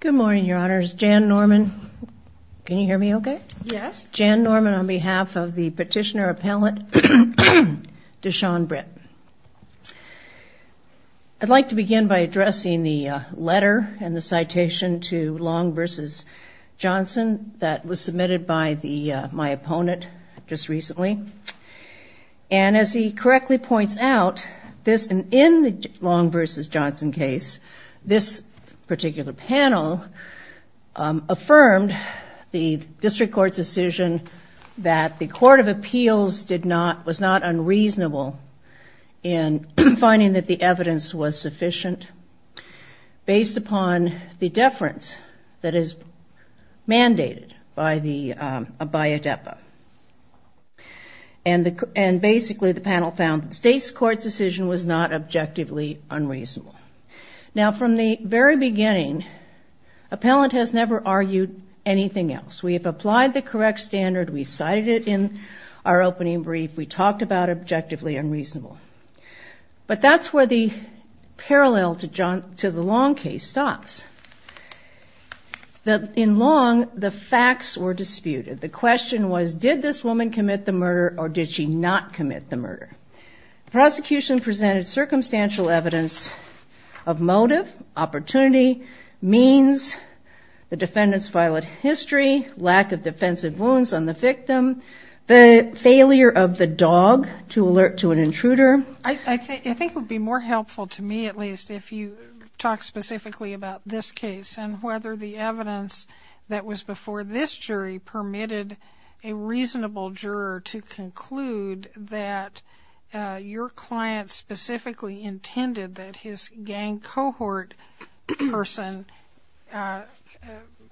Good morning, your honors. Jan Norman, can you hear me okay? Yes. Jan Norman on behalf of the petitioner appellate Deshon Britt. I'd like to begin by addressing the letter and the citation to Long v. Johnson that was submitted by the my opponent just recently and as he correctly points out this and in the Long v. Johnson case this particular panel affirmed the district court's decision that the Court of Appeals did not was not unreasonable in finding that the evidence was sufficient based upon the deference that is mandated by the by a depa and the and basically the panel found the state's court's decision was not objectively unreasonable. Now from the very beginning appellant has never argued anything else. We have applied the correct standard, we cited it in our opening brief, we talked about objectively unreasonable, but that's where the parallel to John to the Long case stops. In Long, the facts were disputed. The question was did this woman commit the murder or did she not commit the murder. The prosecution presented circumstantial evidence of motive, opportunity, means, the defendant's violent history, lack of defensive wounds on the victim, the failure of the dog to alert to an intruder. I think it would be more helpful to me at least if you talk specifically about this case and whether the evidence that was before this jury permitted a reasonable juror to conclude that your client specifically intended that his gang cohort person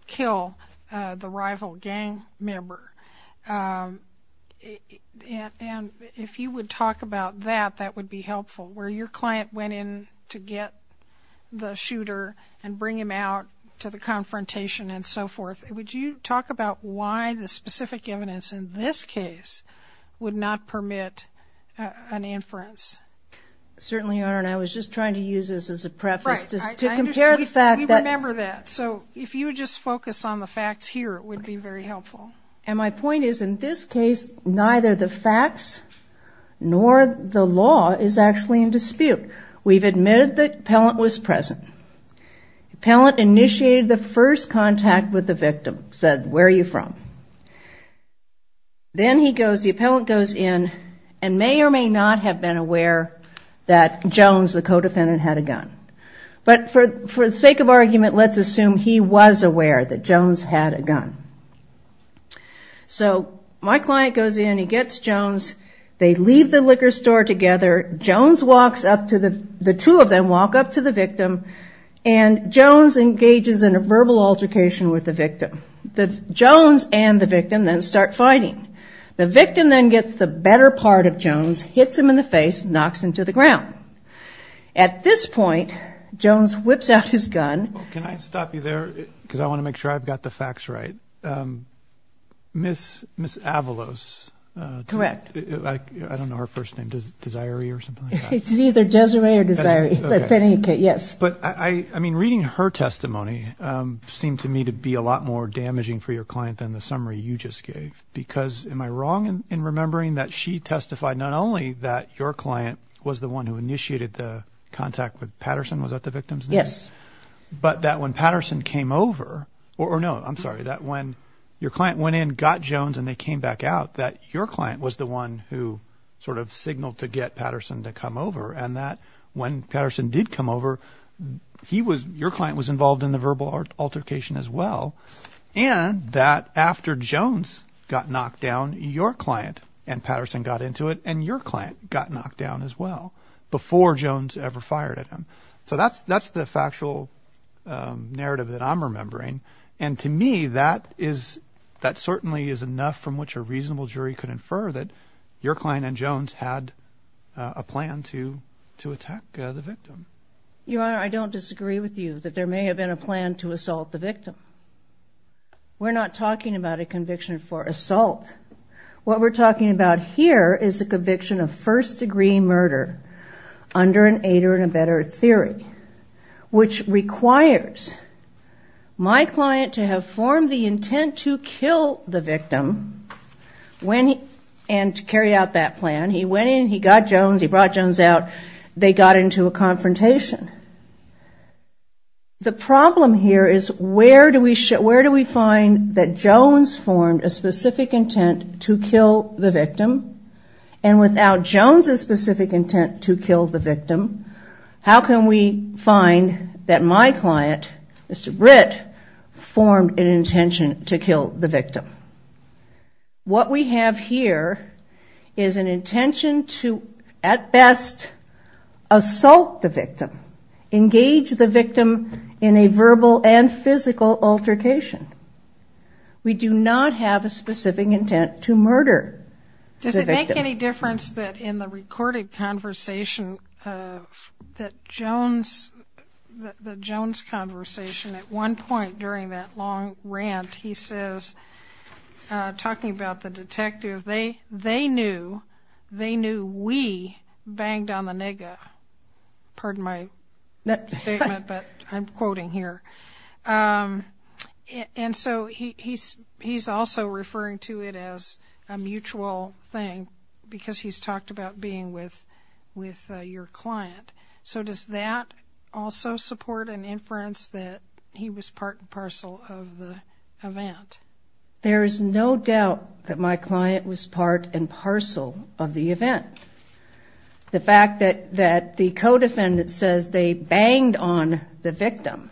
kill the rival gang member. If you would talk about that, that would be helpful. Where your client went in to get the shooter and bring him out to the confrontation and so forth, would you talk about why the specific evidence in this case would not permit an inference? Certainly, Your Honor, and I was just trying to use this as a preface to compare the fact that... We remember that, so if you just focus on the facts here, it would be very helpful. My point is in this case, neither the facts nor the law is actually in dispute. We've admitted that Pellant was present. Pellant initiated the first contact with the victim, said, where are you from? Then he goes, the appellant goes in and may or may not have been aware that Jones, the co-defendant, had a gun. But for the sake of argument, let's assume he was aware that Jones had a gun. So my client goes in, he gets Jones, they leave the liquor store together, Jones walks up to the... The Jones and the victim then start fighting. The victim then gets the better part of Jones, hits him in the face, knocks him to the ground. At this point, Jones whips out his gun... Can I stop you there? Because I want to make sure I've got the facts right. Ms. Avalos... Correct. I don't know her first name, Desiree or something like that? It's either Desiree or Desiree, yes. But I mean, reading her testimony seemed to me to be a lot more damaging for your client than the summary you just gave. Because am I wrong in remembering that she testified not only that your client was the one who initiated the contact with Patterson, was that the victim's name? Yes. But that when Patterson came over or no, I'm sorry, that when your client went in, got Jones and they came back out, that your client was the one who sort of signaled to get Patterson to come over. And that when Patterson did come over, he was, your client was involved in the verbal altercation as well. And that after Jones got knocked down, your client and Patterson got into it and your client got knocked down as well before Jones ever fired at him. So that's the factual narrative that I'm remembering. And to me, that is, that certainly is enough from which a reasonable jury could infer that your client and Jones had a plan to, to attack the victim. Your Honor, I don't disagree with you that there may have been a plan to assault the victim. We're not talking about a conviction for assault. What we're talking about here is a conviction of first degree murder under an aid or in a better theory, which requires my client to have formed the intent to kill the victim when he, and to carry out that plan. He went in, he got Jones, he brought Jones out, they got into a confrontation. The problem here is where do we, where do we find that Jones formed a specific intent to kill the victim? And without Jones' specific intent to kill the victim, how can we find that my client, Mr. Britt, formed an intention to kill the victim? What we have here is an intention to, at best, assault the victim. Engage the victim in a verbal and physical altercation. We do not have a specific intent to murder. Does it make any difference that in the recorded conversation that Jones, the Jones conversation at one point during that long rant, he says, talking about the detective, they knew, they knew we banged on the nigga. Pardon my statement, but I'm quoting here. And so he's also referring to it as a mutual thing because he's talked about being with your client. So does that also support an inference that he was part and parcel of the event? There is no doubt that my client was part and parcel of the event. The fact that, that the co-defendant says they banged on the victim.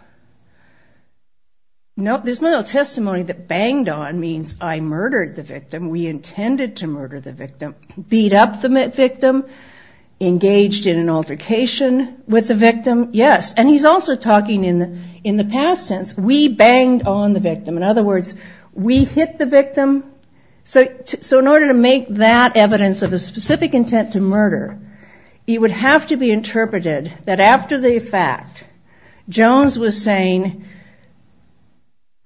No, there's no testimony that banged on means I murdered the victim. We intended to murder the victim. Beat up the victim. Engaged in an altercation with the victim. Yes. And he's also talking in the, in the past tense, we banged on the victim. In other words, we hit the victim. So, so in order to make that evidence of a specific intent to murder, you would have to be interpreted that after the fact, Jones was saying,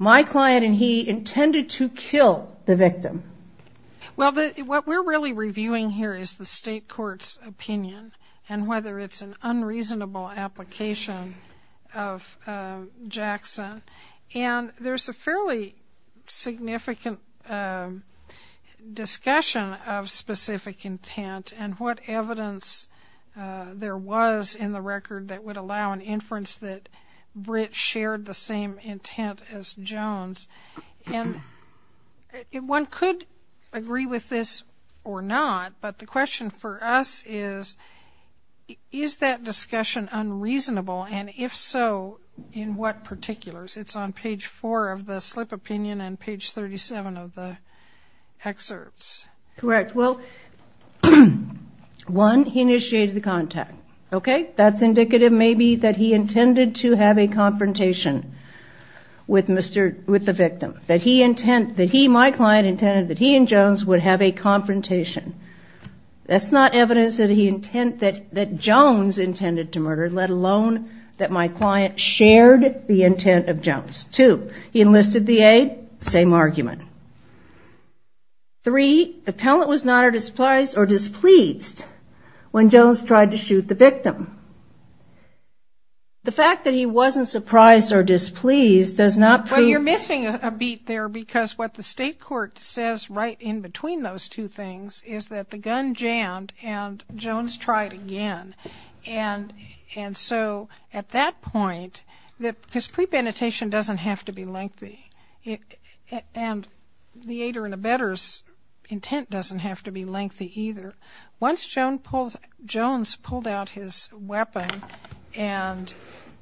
my client and he intended to kill the victim. Well, what we're really reviewing here is the state court's opinion. And whether it's an unreasonable application of Jackson. And there's a fairly significant discussion of specific intent. And what evidence there was in the record that would allow an inference that Britt shared the same intent as Jones. And one could agree with this or not. But the question for us is, is that discussion unreasonable? And if so, in what particulars? It's on page four of the slip opinion and page 37 of the excerpts. Correct. Well, one, he initiated the contact. Okay, that's indicative maybe that he intended to have a confrontation with the victim. That he, my client, intended that he and Jones would have a confrontation. That's not evidence that Jones intended to murder, let alone that my client shared the intent of Jones. Two, he enlisted the aid, same argument. Three, the appellant was not or displeased when Jones tried to shoot the victim. The fact that he wasn't surprised or displeased does not prove- Well, you're missing a beat there because what the state court says right in between those two things is that the gun jammed and Jones tried again. And so at that point, because pre-penetration doesn't have to be lengthy. And the aider and abettor's intent doesn't have to be lengthy either. Once Jones pulled out his weapon and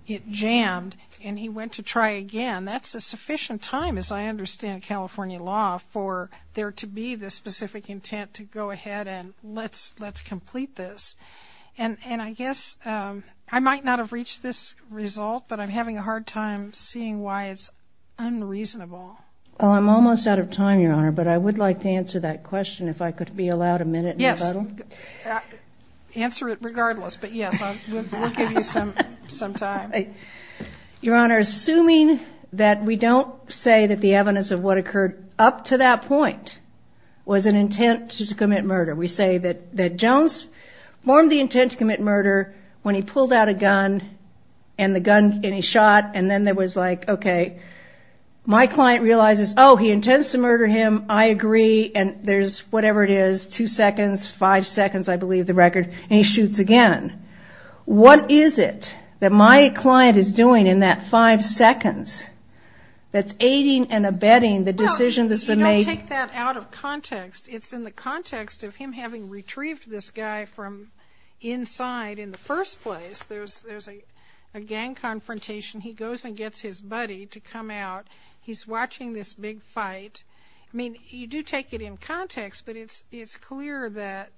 it jammed and he went to try again, that's a sufficient time as I understand California law for there to be the specific intent to go ahead and let's complete this. And I guess, I might not have reached this result, but I'm having a hard time seeing why it's unreasonable. Well, I'm almost out of time, Your Honor, but I would like to answer that question if I could be allowed a minute. Yes, answer it regardless, but yes, we'll give you some time. Your Honor, assuming that we don't say that the evidence of what occurred up to that point was an intent to commit murder. We say that Jones formed the intent to commit murder when he pulled out a gun, and the gun, and he shot, and then there was like, okay. My client realizes, he intends to murder him, I agree, and there's whatever it is, two seconds, five seconds, I believe, the record, and he shoots again. What is it that my client is doing in that five seconds that's aiding and abetting the decision that's been made? Take that out of context. It's in the context of him having retrieved this guy from inside. In the first place, there's a gang confrontation. He goes and gets his buddy to come out. He's watching this big fight. I mean, you do take it in context, but it's clear that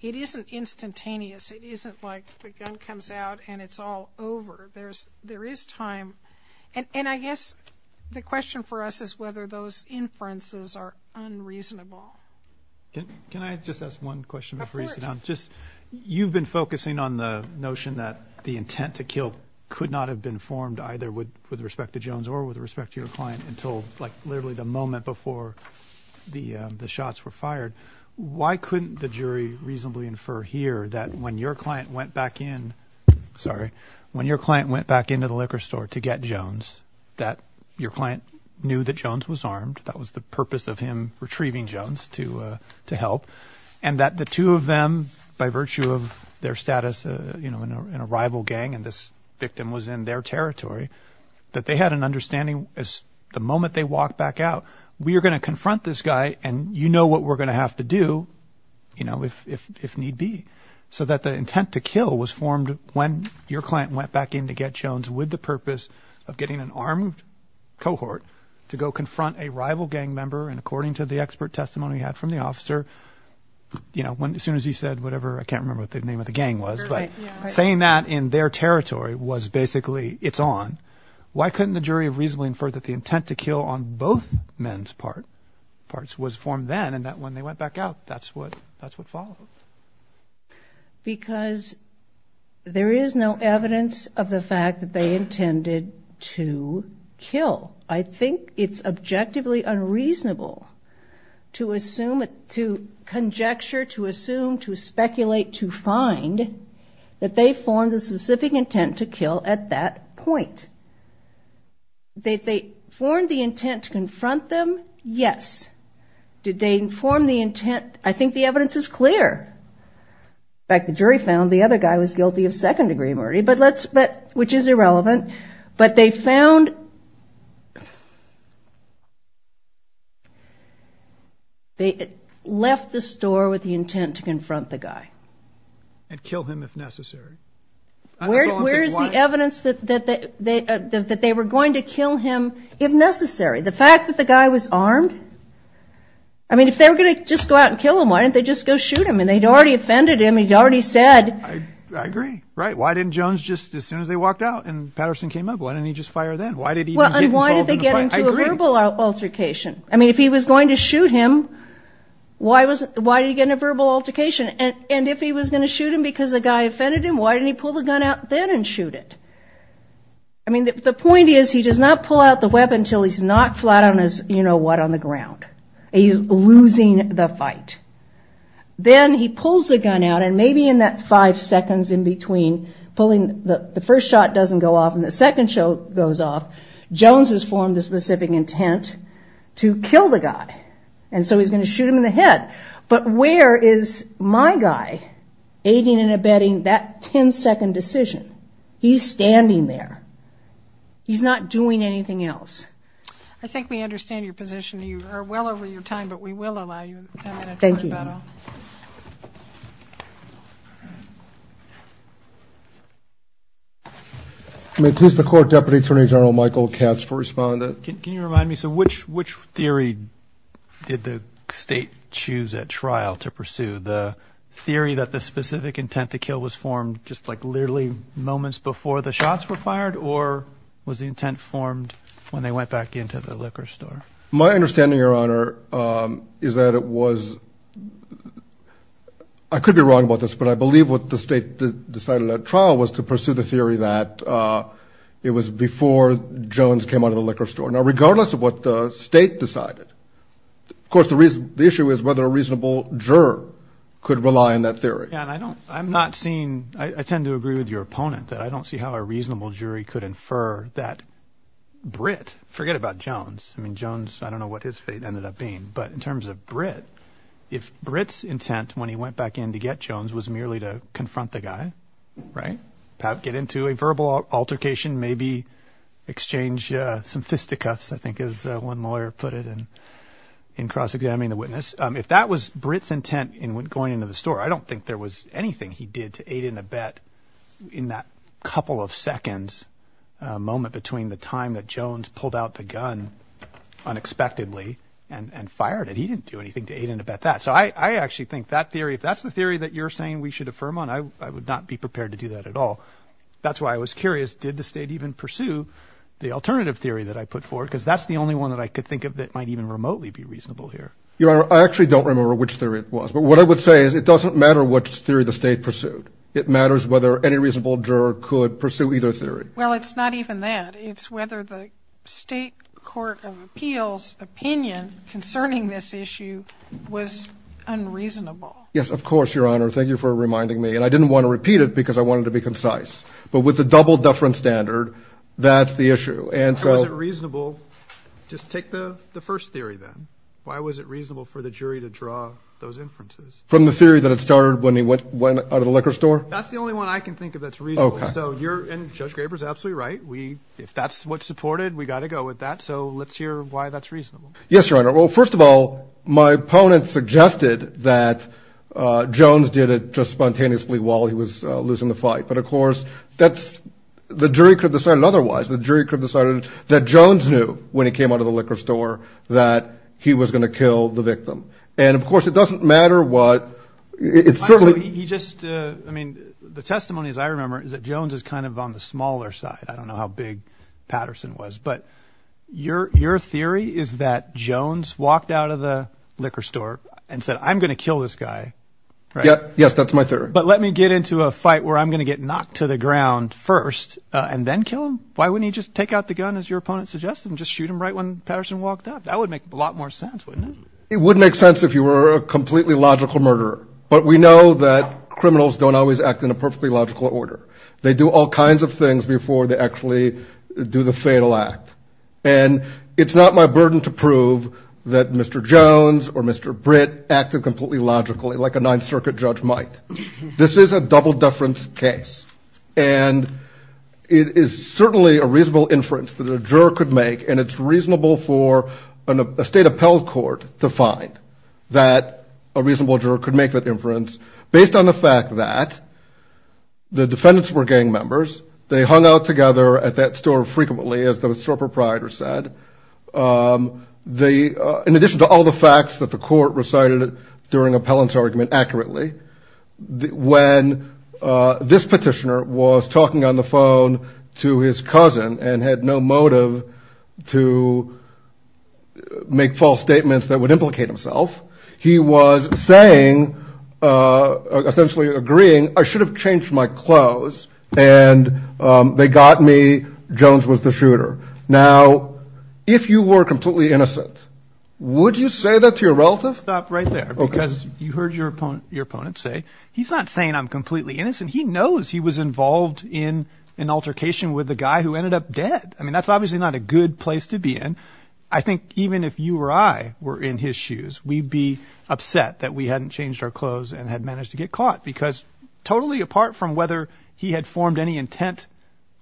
it isn't instantaneous. It isn't like the gun comes out and it's all over. There is time. And I guess the question for us is whether those inferences are unreasonable. Can I just ask one question before you sit down? Just, you've been focusing on the notion that the intent to kill could not have been formed either with respect to Jones or with respect to your client until like literally the moment before the shots were fired. Why couldn't the jury reasonably infer here that when your client went back in, sorry, when your client went back into the liquor store to get Jones, that your client knew that Jones was armed. That was the purpose of him retrieving Jones to help. And that the two of them, by virtue of their status in a rival gang and this victim was in their territory, that they had an understanding as the moment they walked back out, we are gonna confront this guy and you know what we're gonna have to do if need be. So that the intent to kill was formed when your client went back in to get Jones with the purpose of getting an armed cohort to go confront a rival gang member. And according to the expert testimony we had from the officer, you know, as soon as he said whatever, I can't remember what the name of the gang was. But saying that in their territory was basically it's on. Why couldn't the jury have reasonably inferred that the intent to kill on both men's parts was formed then and that when they went back out, that's what followed? Because there is no evidence of the fact that they intended to kill. I think it's objectively unreasonable to assume, to conjecture, to assume, to speculate, to find that they formed a specific intent to kill at that point. They formed the intent to confront them, yes. Did they inform the intent? I think the evidence is clear. In fact, the jury found the other guy was guilty of second degree murder, but let's, but, which is irrelevant. But they found, They left the store with the intent to confront the guy. And kill him if necessary. Where is the evidence that they were going to kill him if necessary? The fact that the guy was armed? I mean, if they were going to just go out and kill him, why didn't they just go shoot him? And they'd already offended him. He'd already said. I agree, right. Why didn't Jones just, as soon as they walked out and Patterson came up, why didn't he just fire then? Why did he even get involved in the fight? And why did they get into a verbal altercation? I mean, if he was going to shoot him, why did he get in a verbal altercation? And if he was going to shoot him because a guy offended him, why didn't he pull the gun out then and shoot it? I mean, the point is he does not pull out the weapon until he's knocked flat on his, you know what, on the ground. He's losing the fight. Then he pulls the gun out and maybe in that five seconds in between pulling, the first shot doesn't go off and the second shot goes off. Jones has formed a specific intent to kill the guy. And so he's going to shoot him in the head. But where is my guy aiding and abetting that ten second decision? He's standing there. He's not doing anything else. I think we understand your position. You are well over your time, but we will allow you a minute to rebuttal. Thank you. May I please have the court deputy attorney general Michael Katz for responding. Can you remind me, so which theory did the state choose at trial to pursue? The theory that the specific intent to kill was formed just like literally moments before the shots were fired or was the intent formed when they went back into the liquor store? My understanding, your honor, is that it was, I could be wrong about this, but I believe what the state decided at trial was to pursue the theory that it was before Jones came out of the liquor store. Now regardless of what the state decided, of course the reason, the issue is whether a reasonable juror could rely on that theory. And I don't, I'm not seeing, I tend to agree with your opponent that I don't see how a reasonable jury could infer that Brit, forget about Jones. I mean, Jones, I don't know what his fate ended up being, but in terms of Brit, if Brit's intent when he went back in to get Jones was merely to confront the guy, right, get into a verbal altercation, maybe exchange some fisticuffs, I think is one lawyer put it in cross-examining the witness. If that was Brit's intent in going into the store, I don't think there was anything he did to aid and abet in that couple of seconds, a moment between the time that Jones pulled out the gun unexpectedly and fired it, he didn't do anything to aid and abet that. So I actually think that theory, if that's the theory that you're saying we should affirm on, I would not be prepared to do that at all. That's why I was curious, did the state even pursue the alternative theory that I put forward, because that's the only one that I could think of that might even remotely be reasonable here. Your honor, I actually don't remember which theory it was. But what I would say is it doesn't matter which theory the state pursued. It matters whether any reasonable juror could pursue either theory. Well, it's not even that. It's whether the state court of appeals opinion concerning this issue was unreasonable. Yes, of course, your honor. Thank you for reminding me. And I didn't want to repeat it because I wanted to be concise. But with the double deference standard, that's the issue. And so- Why was it reasonable, just take the first theory then. Why was it reasonable for the jury to draw those inferences? From the theory that it started when he went out of the liquor store? That's the only one I can think of that's reasonable. So you're, and Judge Graber's absolutely right. We, if that's what's supported, we gotta go with that. So let's hear why that's reasonable. Yes, your honor. Well, first of all, my opponent suggested that Jones did it just spontaneously while he was losing the fight. But of course, that's, the jury could have decided otherwise. The jury could have decided that Jones knew when he came out of the liquor store that he was going to kill the victim. And of course, it doesn't matter what, it's certainly- He just, I mean, the testimony as I remember is that Jones is kind of on the smaller side. I don't know how big Patterson was. But your theory is that Jones walked out of the liquor store and said, I'm going to kill this guy, right? Yes, that's my theory. But let me get into a fight where I'm going to get knocked to the ground first and then kill him. Why wouldn't he just take out the gun, as your opponent suggested, and just shoot him right when Patterson walked up? That would make a lot more sense, wouldn't it? It would make sense if you were a completely logical murderer. But we know that criminals don't always act in a perfectly logical order. They do all kinds of things before they actually do the fatal act. And it's not my burden to prove that Mr. Jones or Mr. Britt acted completely logically like a Ninth Circuit judge might. This is a double deference case. And it is certainly a reasonable inference that a juror could make. And it's reasonable for a state appellate court to find that a reasonable juror could make that inference based on the fact that the defendants were gang members. They hung out together at that store frequently, as the store proprietor said. In addition to all the facts that the court recited during appellant's argument accurately, when this petitioner was talking on the phone to his cousin and had no motive to make false statements that would implicate himself, he was saying, essentially agreeing, I should have changed my clothes. And they got me. Jones was the shooter. Now, if you were completely innocent, would you say that to your relative? Because you heard your opponent say, he's not saying I'm completely innocent. He knows he was involved in an altercation with a guy who ended up dead. I mean, that's obviously not a good place to be in. I think even if you or I were in his shoes, we'd be upset that we hadn't changed our clothes and had managed to get caught. Because totally apart from whether he had formed any intent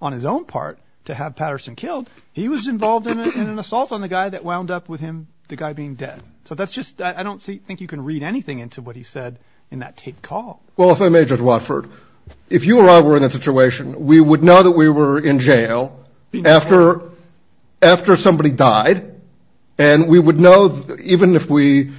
on his own part to have Patterson killed, he was involved in an assault on the guy that wound up with him, the guy being dead. So that's just, I don't think you can read anything into what he said in that taped call. Well, if I may, Judge Watford, if you or I were in that situation, we would know that we were in jail after somebody died. And we would know, even if we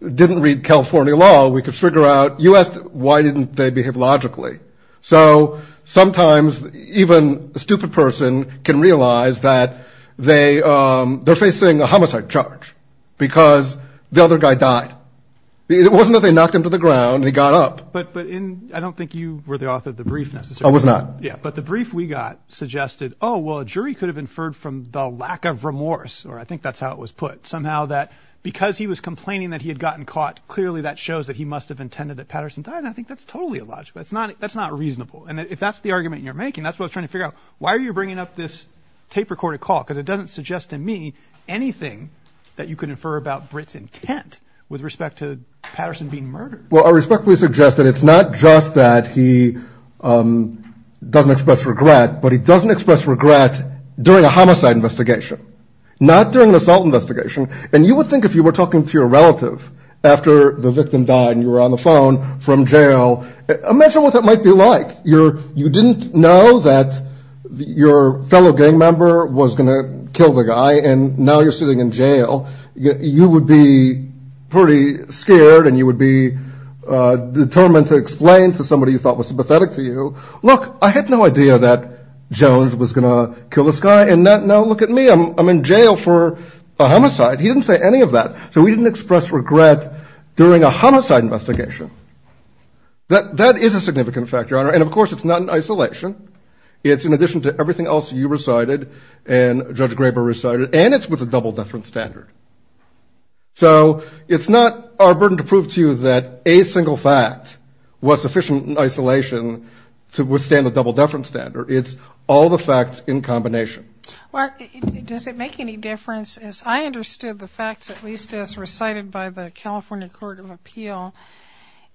didn't read California law, we could figure out, you asked, why didn't they behave logically? So sometimes even a stupid person can realize that they're facing a homicide charge. Because the other guy died. It wasn't that they knocked him to the ground and he got up. But I don't think you were the author of the brief, necessarily. I was not. Yeah. But the brief we got suggested, oh, well, a jury could have inferred from the lack of remorse, or I think that's how it was put. Somehow that because he was complaining that he had gotten caught, clearly that shows that he must have intended that Patterson died. And I think that's totally illogical. It's not, that's not reasonable. And if that's the argument you're making, that's what I was trying to figure out. Why are you bringing up this tape recorded call? Because it doesn't suggest to me anything that you could infer about Britt's intent with respect to Patterson being murdered. Well, I respectfully suggest that it's not just that he doesn't express regret, but he doesn't express regret during a homicide investigation, not during an assault investigation. And you would think if you were talking to your relative after the victim died and you were on the phone from jail, imagine what that might be like. You didn't know that your fellow gang member was going to kill the guy and now you're sitting in jail. You would be pretty scared and you would be determined to explain to somebody you thought was sympathetic to you. Look, I had no idea that Jones was going to kill this guy. And now look at me, I'm in jail for a homicide. He didn't say any of that. So we didn't express regret during a homicide investigation. That is a significant factor, Your Honor. And of course, it's not in isolation. It's in addition to everything else you recited and Judge Graber recited, and it's with a double-deference standard. So it's not our burden to prove to you that a single fact was sufficient in isolation to withstand the double-deference standard. It's all the facts in combination. Well, does it make any difference as I understood the facts, at least as recited by the California Court of Appeal,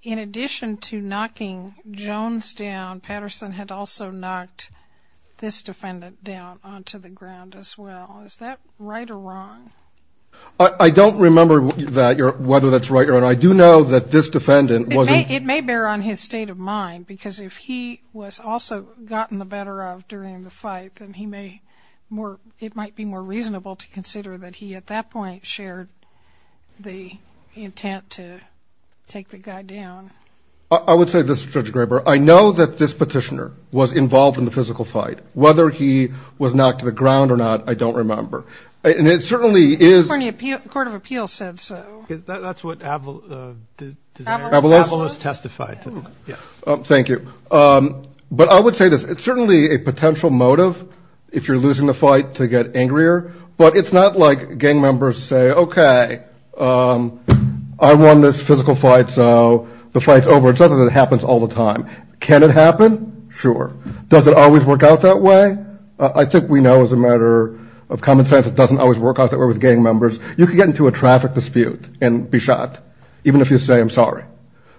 in addition to knocking Jones down, Patterson had also knocked this defendant down onto the ground as well. Is that right or wrong? I don't remember whether that's right or wrong. I do know that this defendant wasn't... It may bear on his state of mind because if he was also gotten the better of during the fight, then it might be more reasonable to consider that he, at that point, shared the intent to take the guy down. I would say this, Judge Graber. I know that this petitioner was involved in the physical fight. Whether he was knocked to the ground or not, I don't remember. And it certainly is... California Court of Appeal said so. That's what Avalos testified. Thank you. But I would say this. It's certainly a potential motive if you're losing the fight to get angrier, but it's not like gang members say, okay, I won this physical fight, so the fight's over. It's something that happens all the time. Can it happen? Sure. Does it always work out that way? I think we know as a matter of common sense, it doesn't always work out that way with gang members. You could get into a traffic dispute and be shot, even if you say, I'm sorry.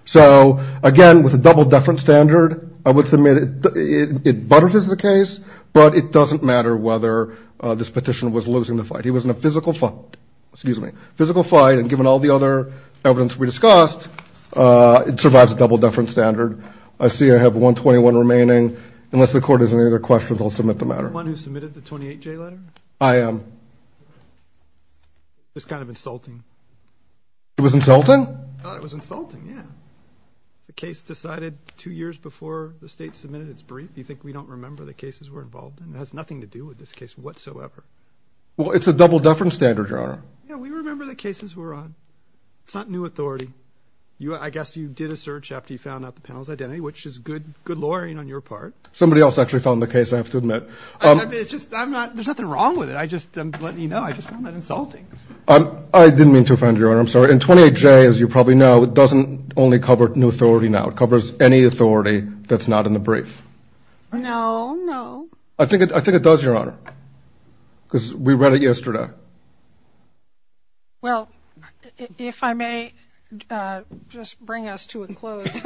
So again, with a double deference standard, I would submit it buttresses the case, but it doesn't matter whether this petitioner was losing the fight. He was in a physical fight. Excuse me. Physical fight, and given all the other evidence we discussed, it survives a double deference standard. I see I have 121 remaining. Unless the court has any other questions, I'll submit the matter. Are you the one who submitted the 28J letter? I am. It was kind of insulting. It was insulting? I thought it was insulting, yeah. The case decided two years before the state submitted its brief. Do you think we don't remember the cases we're involved in? It has nothing to do with this case whatsoever. Well, it's a double deference standard, Your Honor. Yeah, we remember the cases we're on. It's not new authority. I guess you did a search after you found out the panel's identity, which is good lawyering on your part. Somebody else actually found the case, I have to admit. There's nothing wrong with it. I'm just letting you know. I just found that insulting. I didn't mean to offend you, Your Honor. I'm sorry. It covers any authority that's not in the brief. No, no. I think it does, Your Honor, because we read it yesterday. Well, if I may just bring us to a close.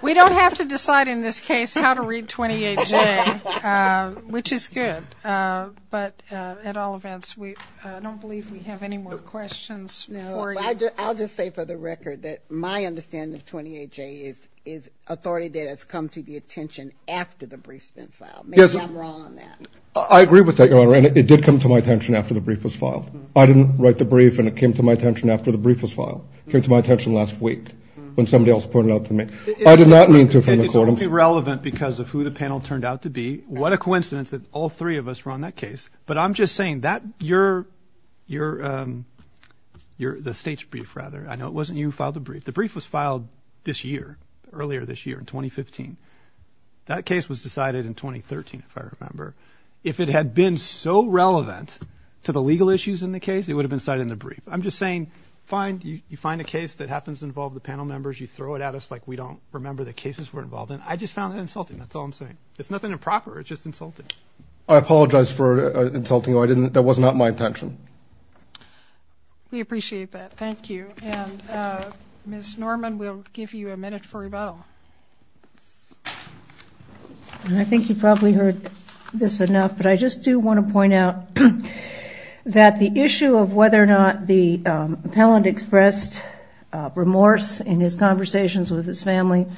We don't have to decide in this case how to read 28J, which is good. But at all events, I don't believe we have any more questions for you. I'll just say for the record that my understanding of 28J is authority that has come to the attention after the brief's been filed. Maybe I'm wrong on that. I agree with that, Your Honor, and it did come to my attention after the brief was filed. I didn't write the brief, and it came to my attention after the brief was filed. It came to my attention last week when somebody else pointed it out to me. I did not mean to offend the court. It's only relevant because of who the panel turned out to be. What a coincidence that all three of us were on that case. But I'm just saying that you're the state's brief, rather. I know it wasn't you who filed the brief. The brief was filed this year, earlier this year, in 2015. That case was decided in 2013, if I remember. If it had been so relevant to the legal issues in the case, it would have been cited in the brief. I'm just saying you find a case that happens to involve the panel members, you throw it at us like we don't remember the cases we're involved in. I just found that insulting. That's all I'm saying. It's nothing improper. It's just insulting. I apologize for insulting you. That was not my intention. We appreciate that. Thank you. And Ms. Norman will give you a minute for rebuttal. I think you've probably heard this enough, but I just do want to point out that the issue of whether or not the appellant expressed remorse in his conversations with his family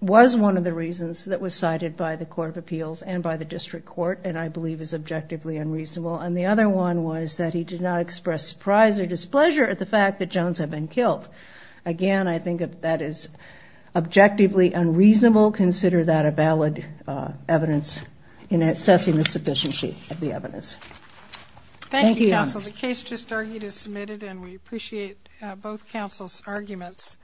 was one of the reasons that was cited by the Court of Appeals and by the District Court, and I believe is objectively unreasonable. And the other one was that he did not express surprise or displeasure at the fact that Jones had been killed. Again, I think that is objectively unreasonable. Consider that a valid evidence in assessing the sufficiency of the evidence. Thank you, counsel. The case just argued is submitted, and we appreciate both counsel's arguments.